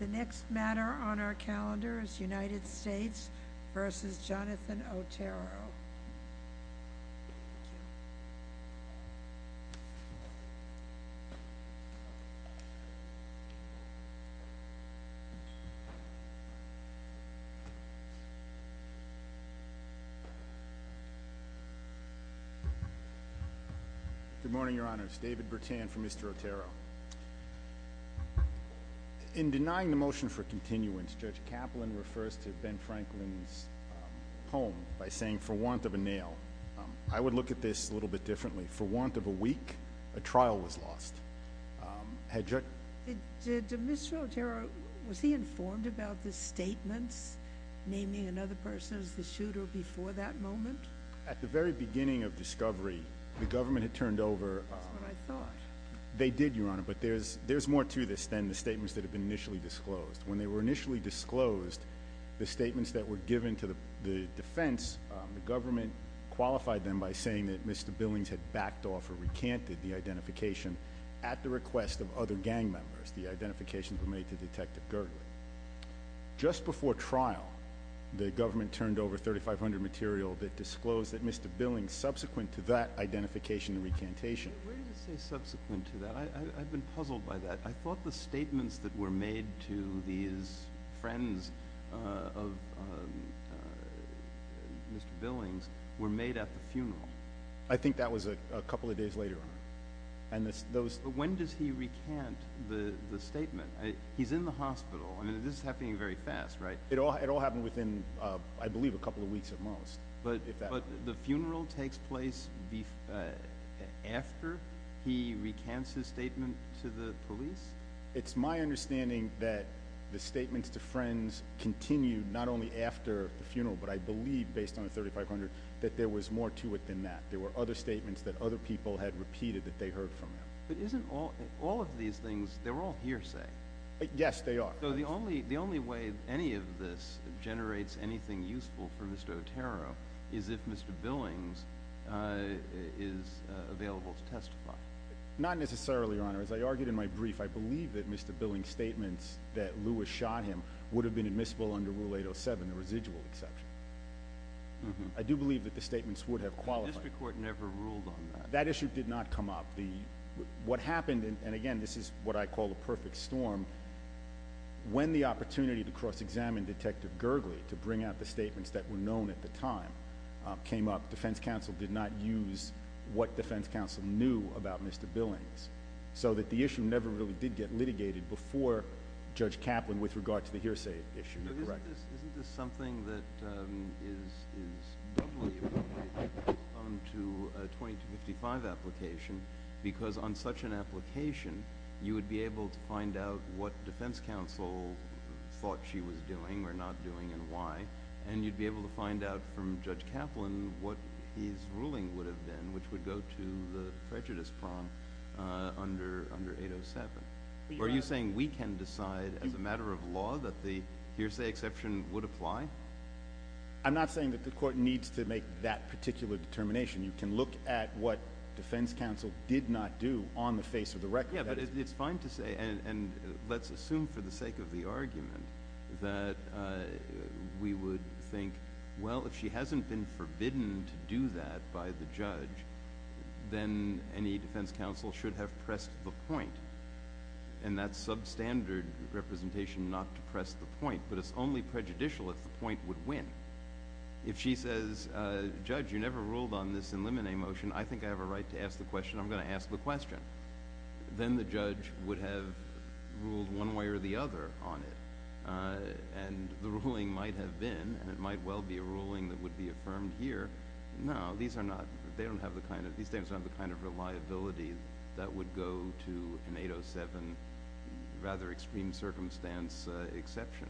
The next matter on our calendar is United States v. Jonathan Otero. Good morning, Your Honors. David Bertand for Mr. Otero. In denying the motion for continuance, Judge Kaplan refers to Ben Franklin's poem by saying, For want of a nail. I would look at this a little bit differently. For want of a week, a trial was lost. Did Mr. Otero, was he informed about the statements naming another person as the shooter before that moment? At the very beginning of discovery, the government had turned over That's what I thought. They did, Your Honor, but there's more to this than the statements that have been initially disclosed. When they were initially disclosed, the statements that were given to the defense, the government qualified them by saying that Mr. Billings had backed off or recanted the identification at the request of other gang members. The identifications were made to Detective Gergely. Just before trial, the government turned over 3,500 material that disclosed that Mr. Billings, subsequent to that identification and recantation. Where did it say subsequent to that? I've been puzzled by that. I thought the statements that were made to these friends of Mr. Billings were made at the funeral. I think that was a couple of days later. When does he recant the statement? He's in the hospital. This is happening very fast, right? It all happened within, I believe, a couple of weeks at most. But the funeral takes place after he recants his statement to the police? It's my understanding that the statements to friends continue not only after the funeral, but I believe, based on the 3,500, that there was more to it than that. There were other statements that other people had repeated that they heard from him. But isn't all of these things, they're all hearsay? Yes, they are. So the only way any of this generates anything useful for Mr. Otero is if Mr. Billings is available to testify? Not necessarily, Your Honor. As I argued in my brief, I believe that Mr. Billings' statements that Lewis shot him would have been admissible under Rule 807, the residual exception. I do believe that the statements would have qualified. The district court never ruled on that. That issue did not come up. What happened, and again, this is what I call a perfect storm, when the opportunity to cross-examine Detective Gergely to bring out the statements that were known at the time came up, defense counsel did not use what defense counsel knew about Mr. Billings, so that the issue never really did get litigated before Judge Kaplan with regard to the hearsay issue. Isn't this something that is doubly appropriate as opposed to a 2255 application? Because on such an application, you would be able to find out what defense counsel thought she was doing or not doing and why, and you'd be able to find out from Judge Kaplan what his ruling would have been, which would go to the prejudice prompt under 807. Are you saying we can decide as a matter of law that the hearsay exception would apply? I'm not saying that the court needs to make that particular determination. You can look at what defense counsel did not do on the face of the record. Yeah, but it's fine to say, and let's assume for the sake of the argument, that we would think, well, if she hasn't been forbidden to do that by the judge, then any defense counsel should have pressed the point, and that's substandard representation not to press the point, but it's only prejudicial if the point would win. If she says, Judge, you never ruled on this in limine motion, I think I have a right to ask the question, I'm going to ask the question, then the judge would have ruled one way or the other on it, and the ruling might have been, and it might well be a ruling that would be affirmed here. No, these statements don't have the kind of reliability that would go to an 807 rather extreme circumstance exception.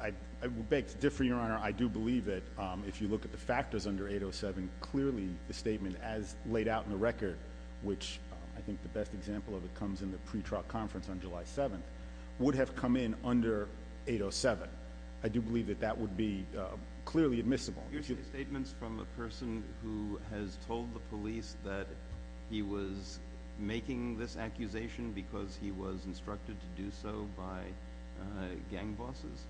I would beg to differ, Your Honor. I do believe that if you look at the factors under 807, clearly the statement as laid out in the record, which I think the best example of it comes in the pretrial conference on July 7th, would have come in under 807. I do believe that that would be clearly admissible. Your statements from a person who has told the police that he was making this accusation because he was instructed to do so by gang bosses?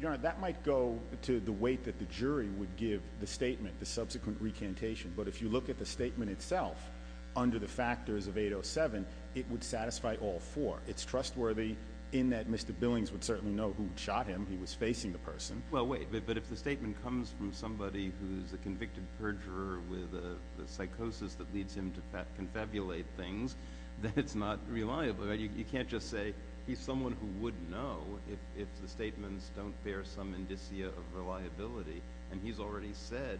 Your Honor, that might go to the weight that the jury would give the statement, the subsequent recantation, but if you look at the statement itself under the factors of 807, it would satisfy all four. It's trustworthy in that Mr. Billings would certainly know who shot him. He was facing the person. Well, wait. But if the statement comes from somebody who's a convicted perjurer with a psychosis that leads him to confabulate things, then it's not reliable. You can't just say he's someone who would know if the statements don't bear some indicia of reliability. And he's already said,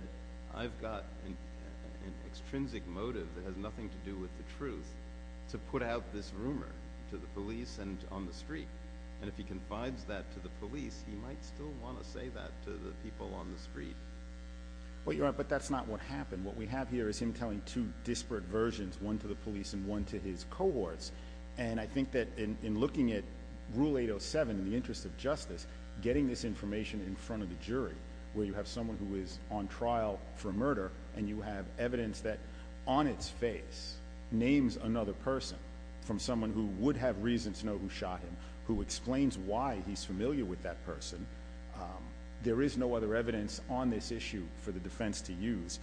I've got an extrinsic motive that has nothing to do with the truth to put out this rumor to the police and on the street. And if he confides that to the police, he might still want to say that to the people on the street. Well, Your Honor, but that's not what happened. What we have here is him telling two disparate versions, one to the police and one to his cohorts. And I think that in looking at Rule 807 in the interest of justice, getting this information in front of the jury, where you have someone who is on trial for murder and you have evidence that on its face names another person from someone who would have reason to know who shot him, who explains why he's familiar with that person. There is no other evidence on this issue for the defense to use.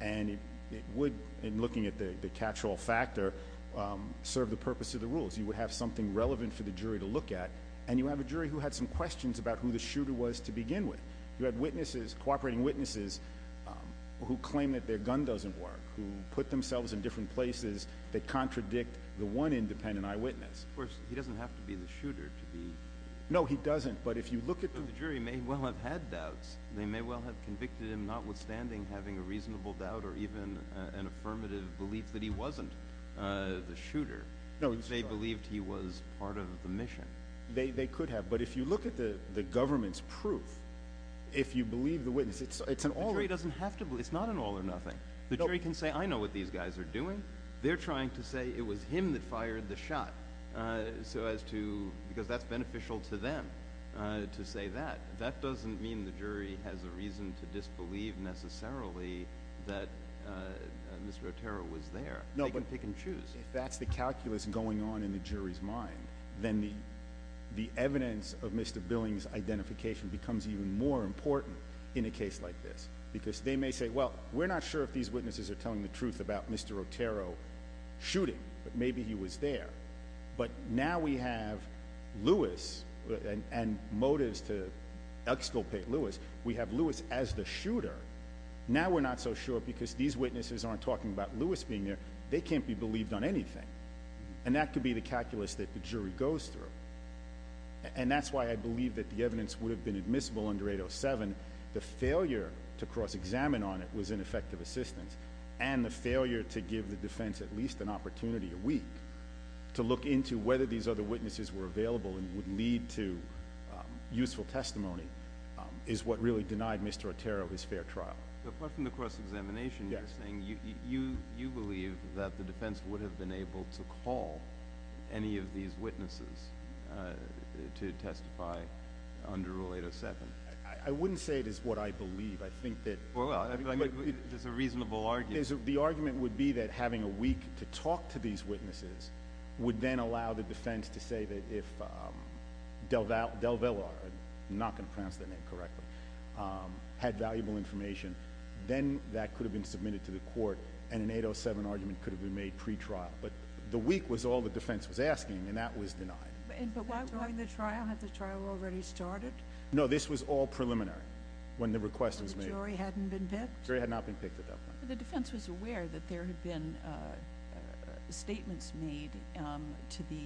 And it would, in looking at the catch-all factor, serve the purpose of the rules. You would have something relevant for the jury to look at. And you have a jury who had some questions about who the shooter was to begin with. You had witnesses, cooperating witnesses, who claim that their gun doesn't work, who put themselves in different places that contradict the one independent eyewitness. Of course, he doesn't have to be the shooter to be – No, he doesn't. But if you look at the – So the jury may well have had doubts. They may well have convicted him notwithstanding having a reasonable doubt or even an affirmative belief that he wasn't the shooter. No, he's not. They believed he was part of the mission. They could have. But if you look at the government's proof, if you believe the witness, it's an all – The jury doesn't have to believe – it's not an all or nothing. The jury can say, I know what these guys are doing. They're trying to say it was him that fired the shot because that's beneficial to them to say that. That doesn't mean the jury has a reason to disbelieve necessarily that Mr. Otero was there. They can pick and choose. If that's the calculus going on in the jury's mind, then the evidence of Mr. Billing's identification becomes even more important in a case like this because they may say, well, we're not sure if these witnesses are telling the truth about Mr. Otero shooting, but maybe he was there. But now we have Lewis and motives to exculpate Lewis. We have Lewis as the shooter. Now we're not so sure because these witnesses aren't talking about Lewis being there. They can't be believed on anything. And that could be the calculus that the jury goes through. And that's why I believe that the evidence would have been admissible under 807. The failure to cross-examine on it was ineffective assistance, and the failure to give the defense at least an opportunity a week to look into whether these other witnesses were available and would lead to useful testimony is what really denied Mr. Otero his fair trial. Apart from the cross-examination, you're saying you believe that the defense would have been able to call any of these witnesses to testify under 807. I wouldn't say it is what I believe. I think that— Well, there's a reasonable argument. The argument would be that having a week to talk to these witnesses would then allow the defense to say that if DelVillar —I'm not going to pronounce that name correctly— had valuable information, then that could have been submitted to the court, and an 807 argument could have been made pretrial. But the week was all the defense was asking, and that was denied. But why was the trial—had the trial already started? No, this was all preliminary, when the request was made. So the jury hadn't been picked? The jury had not been picked at that point. The defense was aware that there had been statements made to the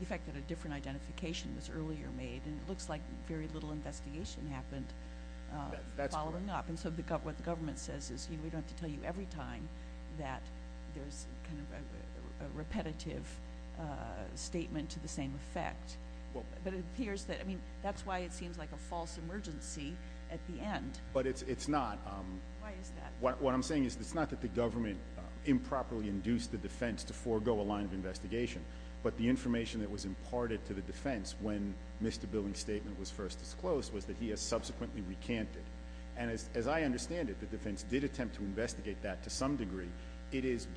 effect that a different identification was earlier made, and it looks like very little investigation happened following up. And so what the government says is we don't have to tell you every time that there's kind of a repetitive statement to the same effect. But it appears that—I mean, that's why it seems like a false emergency at the end. But it's not. Why is that? What I'm saying is it's not that the government improperly induced the defense to forego a line of investigation, but the information that was imparted to the defense when Mr. Billing's statement was first disclosed was that he has subsequently recanted. And as I understand it, the defense did attempt to investigate that to some degree. But you said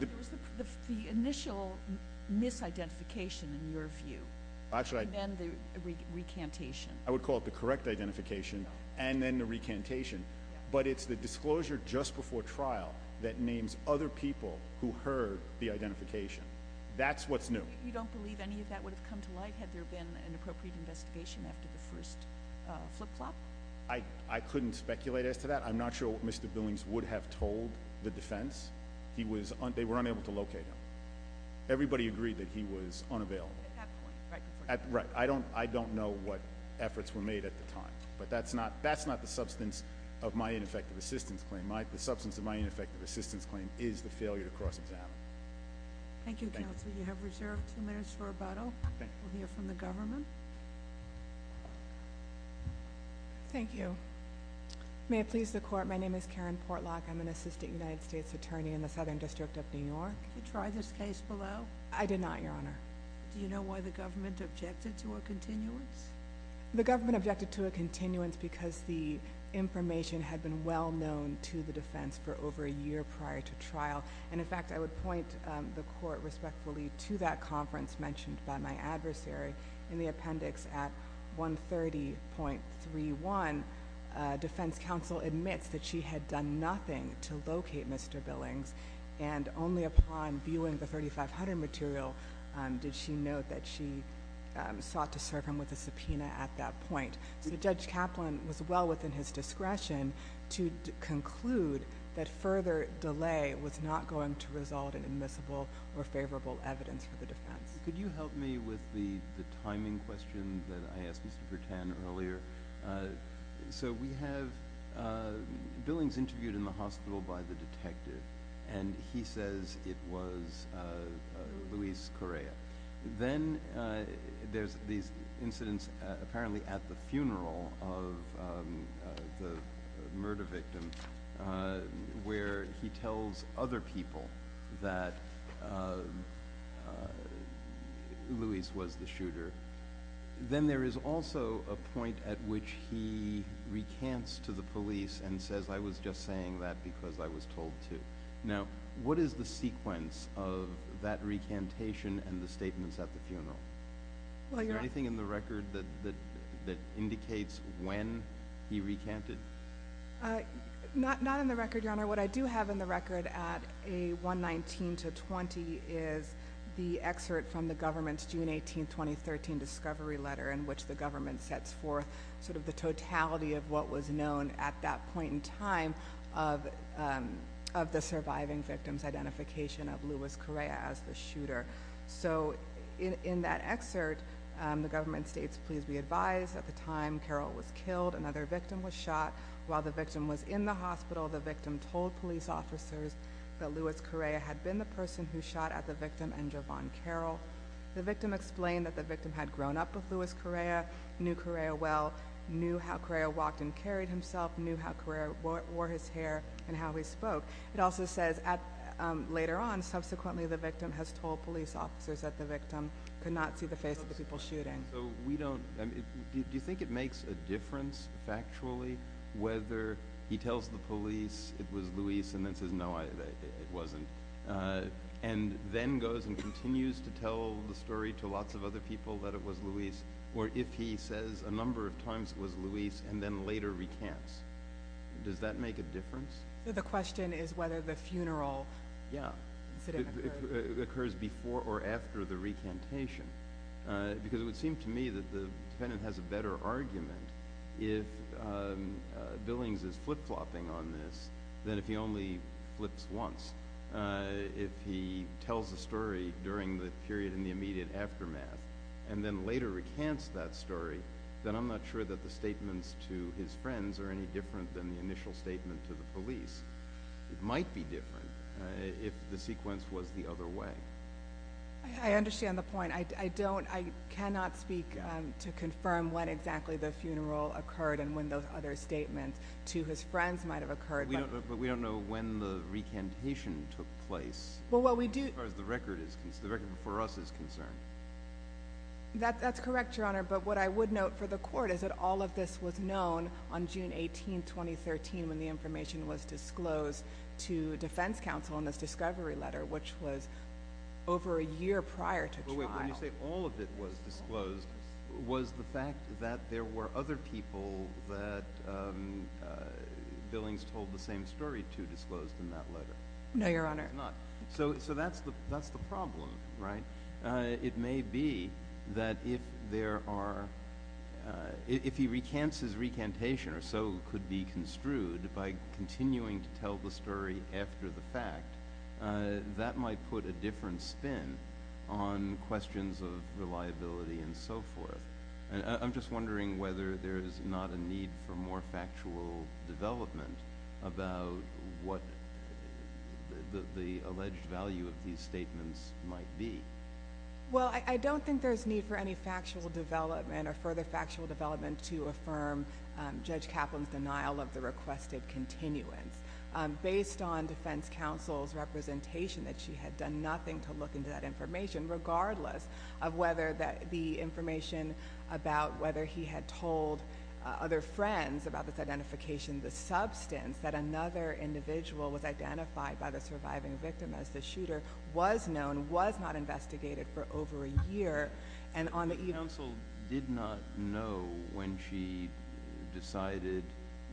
there was the initial misidentification, in your view, and then the recantation. I would call it the correct identification and then the recantation. But it's the disclosure just before trial that names other people who heard the identification. That's what's new. You don't believe any of that would have come to light had there been an appropriate investigation after the first flip-flop? I couldn't speculate as to that. I'm not sure what Mr. Billing's would have told the defense. They were unable to locate him. Everybody agreed that he was unavailable. At that point, right before trial. Right. I don't know what efforts were made at the time. But that's not the substance of my ineffective assistance claim. The substance of my ineffective assistance claim is the failure to cross-examine. Thank you, Counselor. You have reserved two minutes for rebuttal. We'll hear from the government. Thank you. May it please the Court, my name is Karen Portlock. I'm an Assistant United States Attorney in the Southern District of New York. Did you try this case below? I did not, Your Honor. Do you know why the government objected to a continuance? The government objected to a continuance because the information had been well-known to the defense for over a year prior to trial. And in fact, I would point the Court respectfully to that conference mentioned by my adversary in the appendix at 130.31. Defense counsel admits that she had done nothing to locate Mr. Billings. And only upon viewing the 3500 material did she note that she sought to serve him with a subpoena at that point. So Judge Kaplan was well within his discretion to conclude that further delay was not going to result in admissible or favorable evidence for the defense. Could you help me with the timing question that I asked Mr. Purtan earlier? So we have Billings interviewed in the hospital by the detective, and he says it was Luis Correa. Then there's these incidents apparently at the funeral of the murder victim where he tells other people that Luis was the shooter. Then there is also a point at which he recants to the police and says, I was just saying that because I was told to. Now, what is the sequence of that recantation and the statements at the funeral? Is there anything in the record that indicates when he recanted? Not in the record, Your Honor. Your Honor, what I do have in the record at a 119 to 20 is the excerpt from the government's June 18, 2013 discovery letter in which the government sets forth sort of the totality of what was known at that point in time of the surviving victim's identification of Luis Correa as the shooter. So in that excerpt, the government states, please be advised, at the time Carroll was killed, another victim was shot. While the victim was in the hospital, the victim told police officers that Luis Correa had been the person who shot at the victim and Jovan Carroll. The victim explained that the victim had grown up with Luis Correa, knew Correa well, knew how Correa walked and carried himself, knew how Correa wore his hair and how he spoke. It also says later on, subsequently, the victim has told police officers that the victim could not see the face of the people shooting. So we don't – do you think it makes a difference factually whether he tells the police it was Luis and then says, no, it wasn't, and then goes and continues to tell the story to lots of other people that it was Luis, or if he says a number of times it was Luis and then later recants? The question is whether the funeral incident occurred. Yeah. It occurs before or after the recantation. Because it would seem to me that the defendant has a better argument if Billings is flip-flopping on this than if he only flips once. If he tells the story during the period in the immediate aftermath and then later recants that story, then I'm not sure that the statements to his friends are any different than the initial statement to the police. It might be different if the sequence was the other way. I understand the point. I don't – I cannot speak to confirm when exactly the funeral occurred and when those other statements to his friends might have occurred. But we don't know when the recantation took place as far as the record is – the record for us is concerned. That's correct, Your Honor, but what I would note for the court is that all of this was known on June 18, 2013, when the information was disclosed to defense counsel in this discovery letter, which was over a year prior to trial. No, wait. When you say all of it was disclosed, was the fact that there were other people that Billings told the same story to disclosed in that letter? No, Your Honor. So that's the problem, right? It may be that if there are – if he recants his recantation or so could be construed by continuing to tell the story after the fact, that might put a different spin on questions of reliability and so forth. I'm just wondering whether there's not a need for more factual development about what the alleged value of these statements might be. Well, I don't think there's need for any factual development or further factual development to affirm Judge Kaplan's denial of the requested continuance. Based on defense counsel's representation that she had done nothing to look into that information, regardless of whether the information about whether he had told other friends about this identification, the substance that another individual was identified by the surviving victim as the shooter, was known, was not investigated for over a year. Counsel did not know when she decided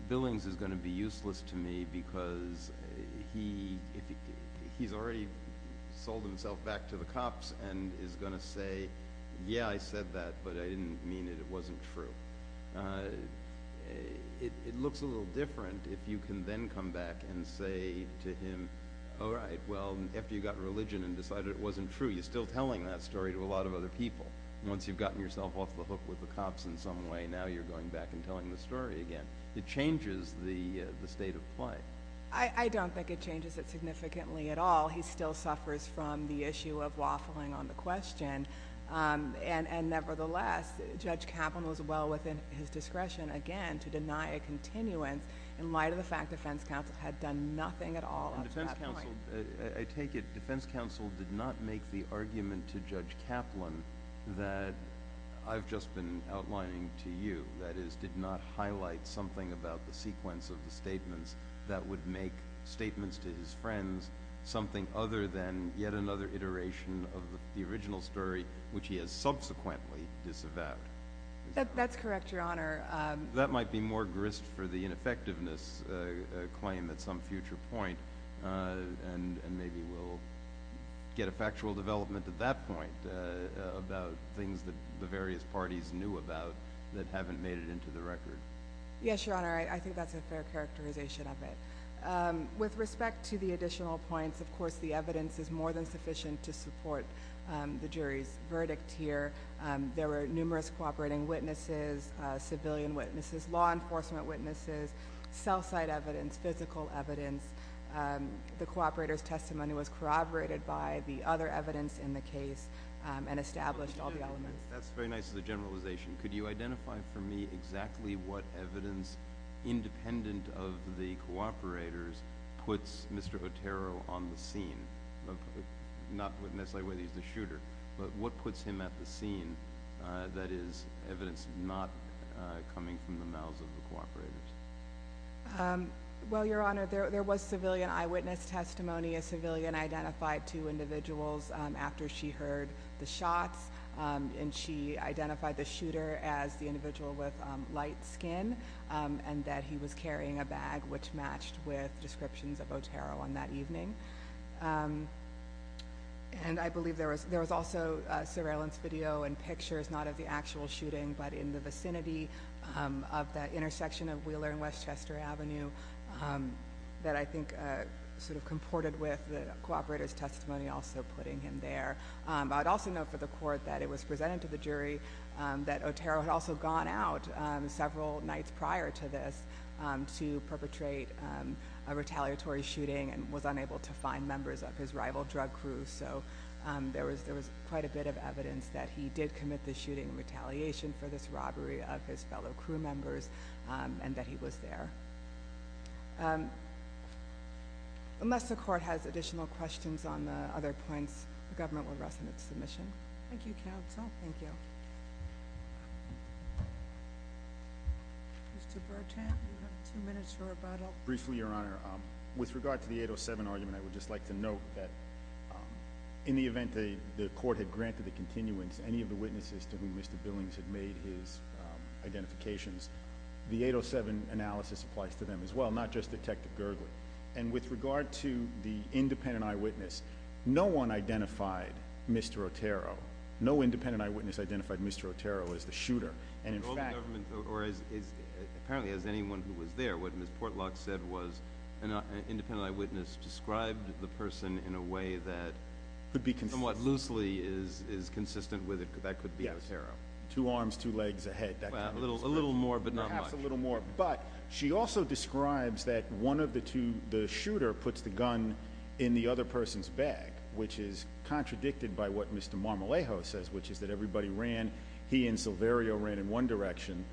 Billings is going to be useless to me because he's already sold himself back to the cops and is going to say, yeah, I said that, but I didn't mean it. It wasn't true. It looks a little different if you can then come back and say to him, all right, well, after you got religion and decided it wasn't true, you're still telling that story to a lot of other people. Once you've gotten yourself off the hook with the cops in some way, now you're going back and telling the story again. It changes the state of play. I don't think it changes it significantly at all. He still suffers from the issue of waffling on the question. Nevertheless, Judge Kaplan was well within his discretion, again, to deny a continuance in light of the fact defense counsel had done nothing at all up to that point. I take it defense counsel did not make the argument to Judge Kaplan that I've just been outlining to you, that is, did not highlight something about the sequence of the statements that would make statements to his friends something other than yet another iteration of the original story, which he has subsequently disavowed. That's correct, Your Honor. That might be more grist for the ineffectiveness claim at some future point, and maybe we'll get a factual development at that point about things that the various parties knew about that haven't made it into the record. Yes, Your Honor. I think that's a fair characterization of it. With respect to the additional points, of course, the evidence is more than sufficient to support the jury's verdict here. There were numerous cooperating witnesses, civilian witnesses, law enforcement witnesses, cell site evidence, physical evidence. The cooperator's testimony was corroborated by the other evidence in the case and established all the elements. That's very nice as a generalization. Could you identify for me exactly what evidence, independent of the cooperators, puts Mr. Otero on the scene? Not necessarily whether he's the shooter, but what puts him at the scene that is evidence not coming from the mouths of the cooperators? Well, Your Honor, there was civilian eyewitness testimony. A civilian identified two individuals after she heard the shots, and she identified the shooter as the individual with light skin and that he was carrying a bag which matched with descriptions of Otero on that evening. And I believe there was also surveillance video and pictures, not of the actual shooting, but in the vicinity of the intersection of Wheeler and Westchester Avenue that I think sort of comported with the cooperator's testimony also putting him there. I'd also note for the court that it was presented to the jury that Otero had also gone out several nights prior to this to perpetrate a retaliatory shooting and was unable to find members of his rival drug crew, so there was quite a bit of evidence that he did commit the shooting in retaliation for this robbery of his fellow crew members and that he was there. Unless the court has additional questions on the other points, the government will rest on its submission. Thank you, counsel. Thank you. Mr. Bertrand, you have two minutes for rebuttal. Briefly, Your Honor, with regard to the 807 argument, I would just like to note that in the event the court had granted the continuance, any of the witnesses to whom Mr. Billings had made his identifications, the 807 analysis applies to them as well, not just Detective Gergely. With regard to the independent eyewitness, no one identified Mr. Otero. No independent eyewitness identified Mr. Otero as the shooter. Apparently, as anyone who was there, what Ms. Portlock said was an independent eyewitness described the person in a way that somewhat loosely is consistent with it. That could be Otero. Two arms, two legs, a head. A little more, but not much. A little more, but she also describes that one of the two, the shooter, puts the gun in the other person's bag, which is contradicted by what Mr. Marmolejo says, which is that everybody ran. He and Silverio ran in one direction,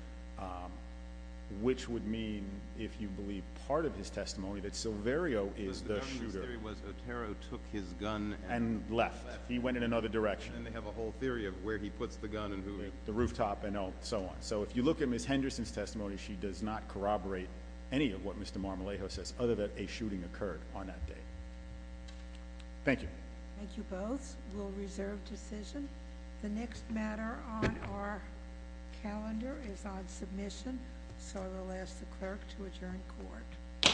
which would mean, if you believe part of his testimony, that Silverio is the shooter. Because the government's theory was Otero took his gun and left. And left. He went in another direction. And they have a whole theory of where he puts the gun and who. The rooftop and so on. So if you look at Ms. Henderson's testimony, she does not corroborate any of what Mr. Marmolejo says, other than a shooting occurred on that day. Thank you. Thank you both. We'll reserve decision. The next matter on our calendar is on submission. So I will ask the clerk to adjourn court. Court is adjourned.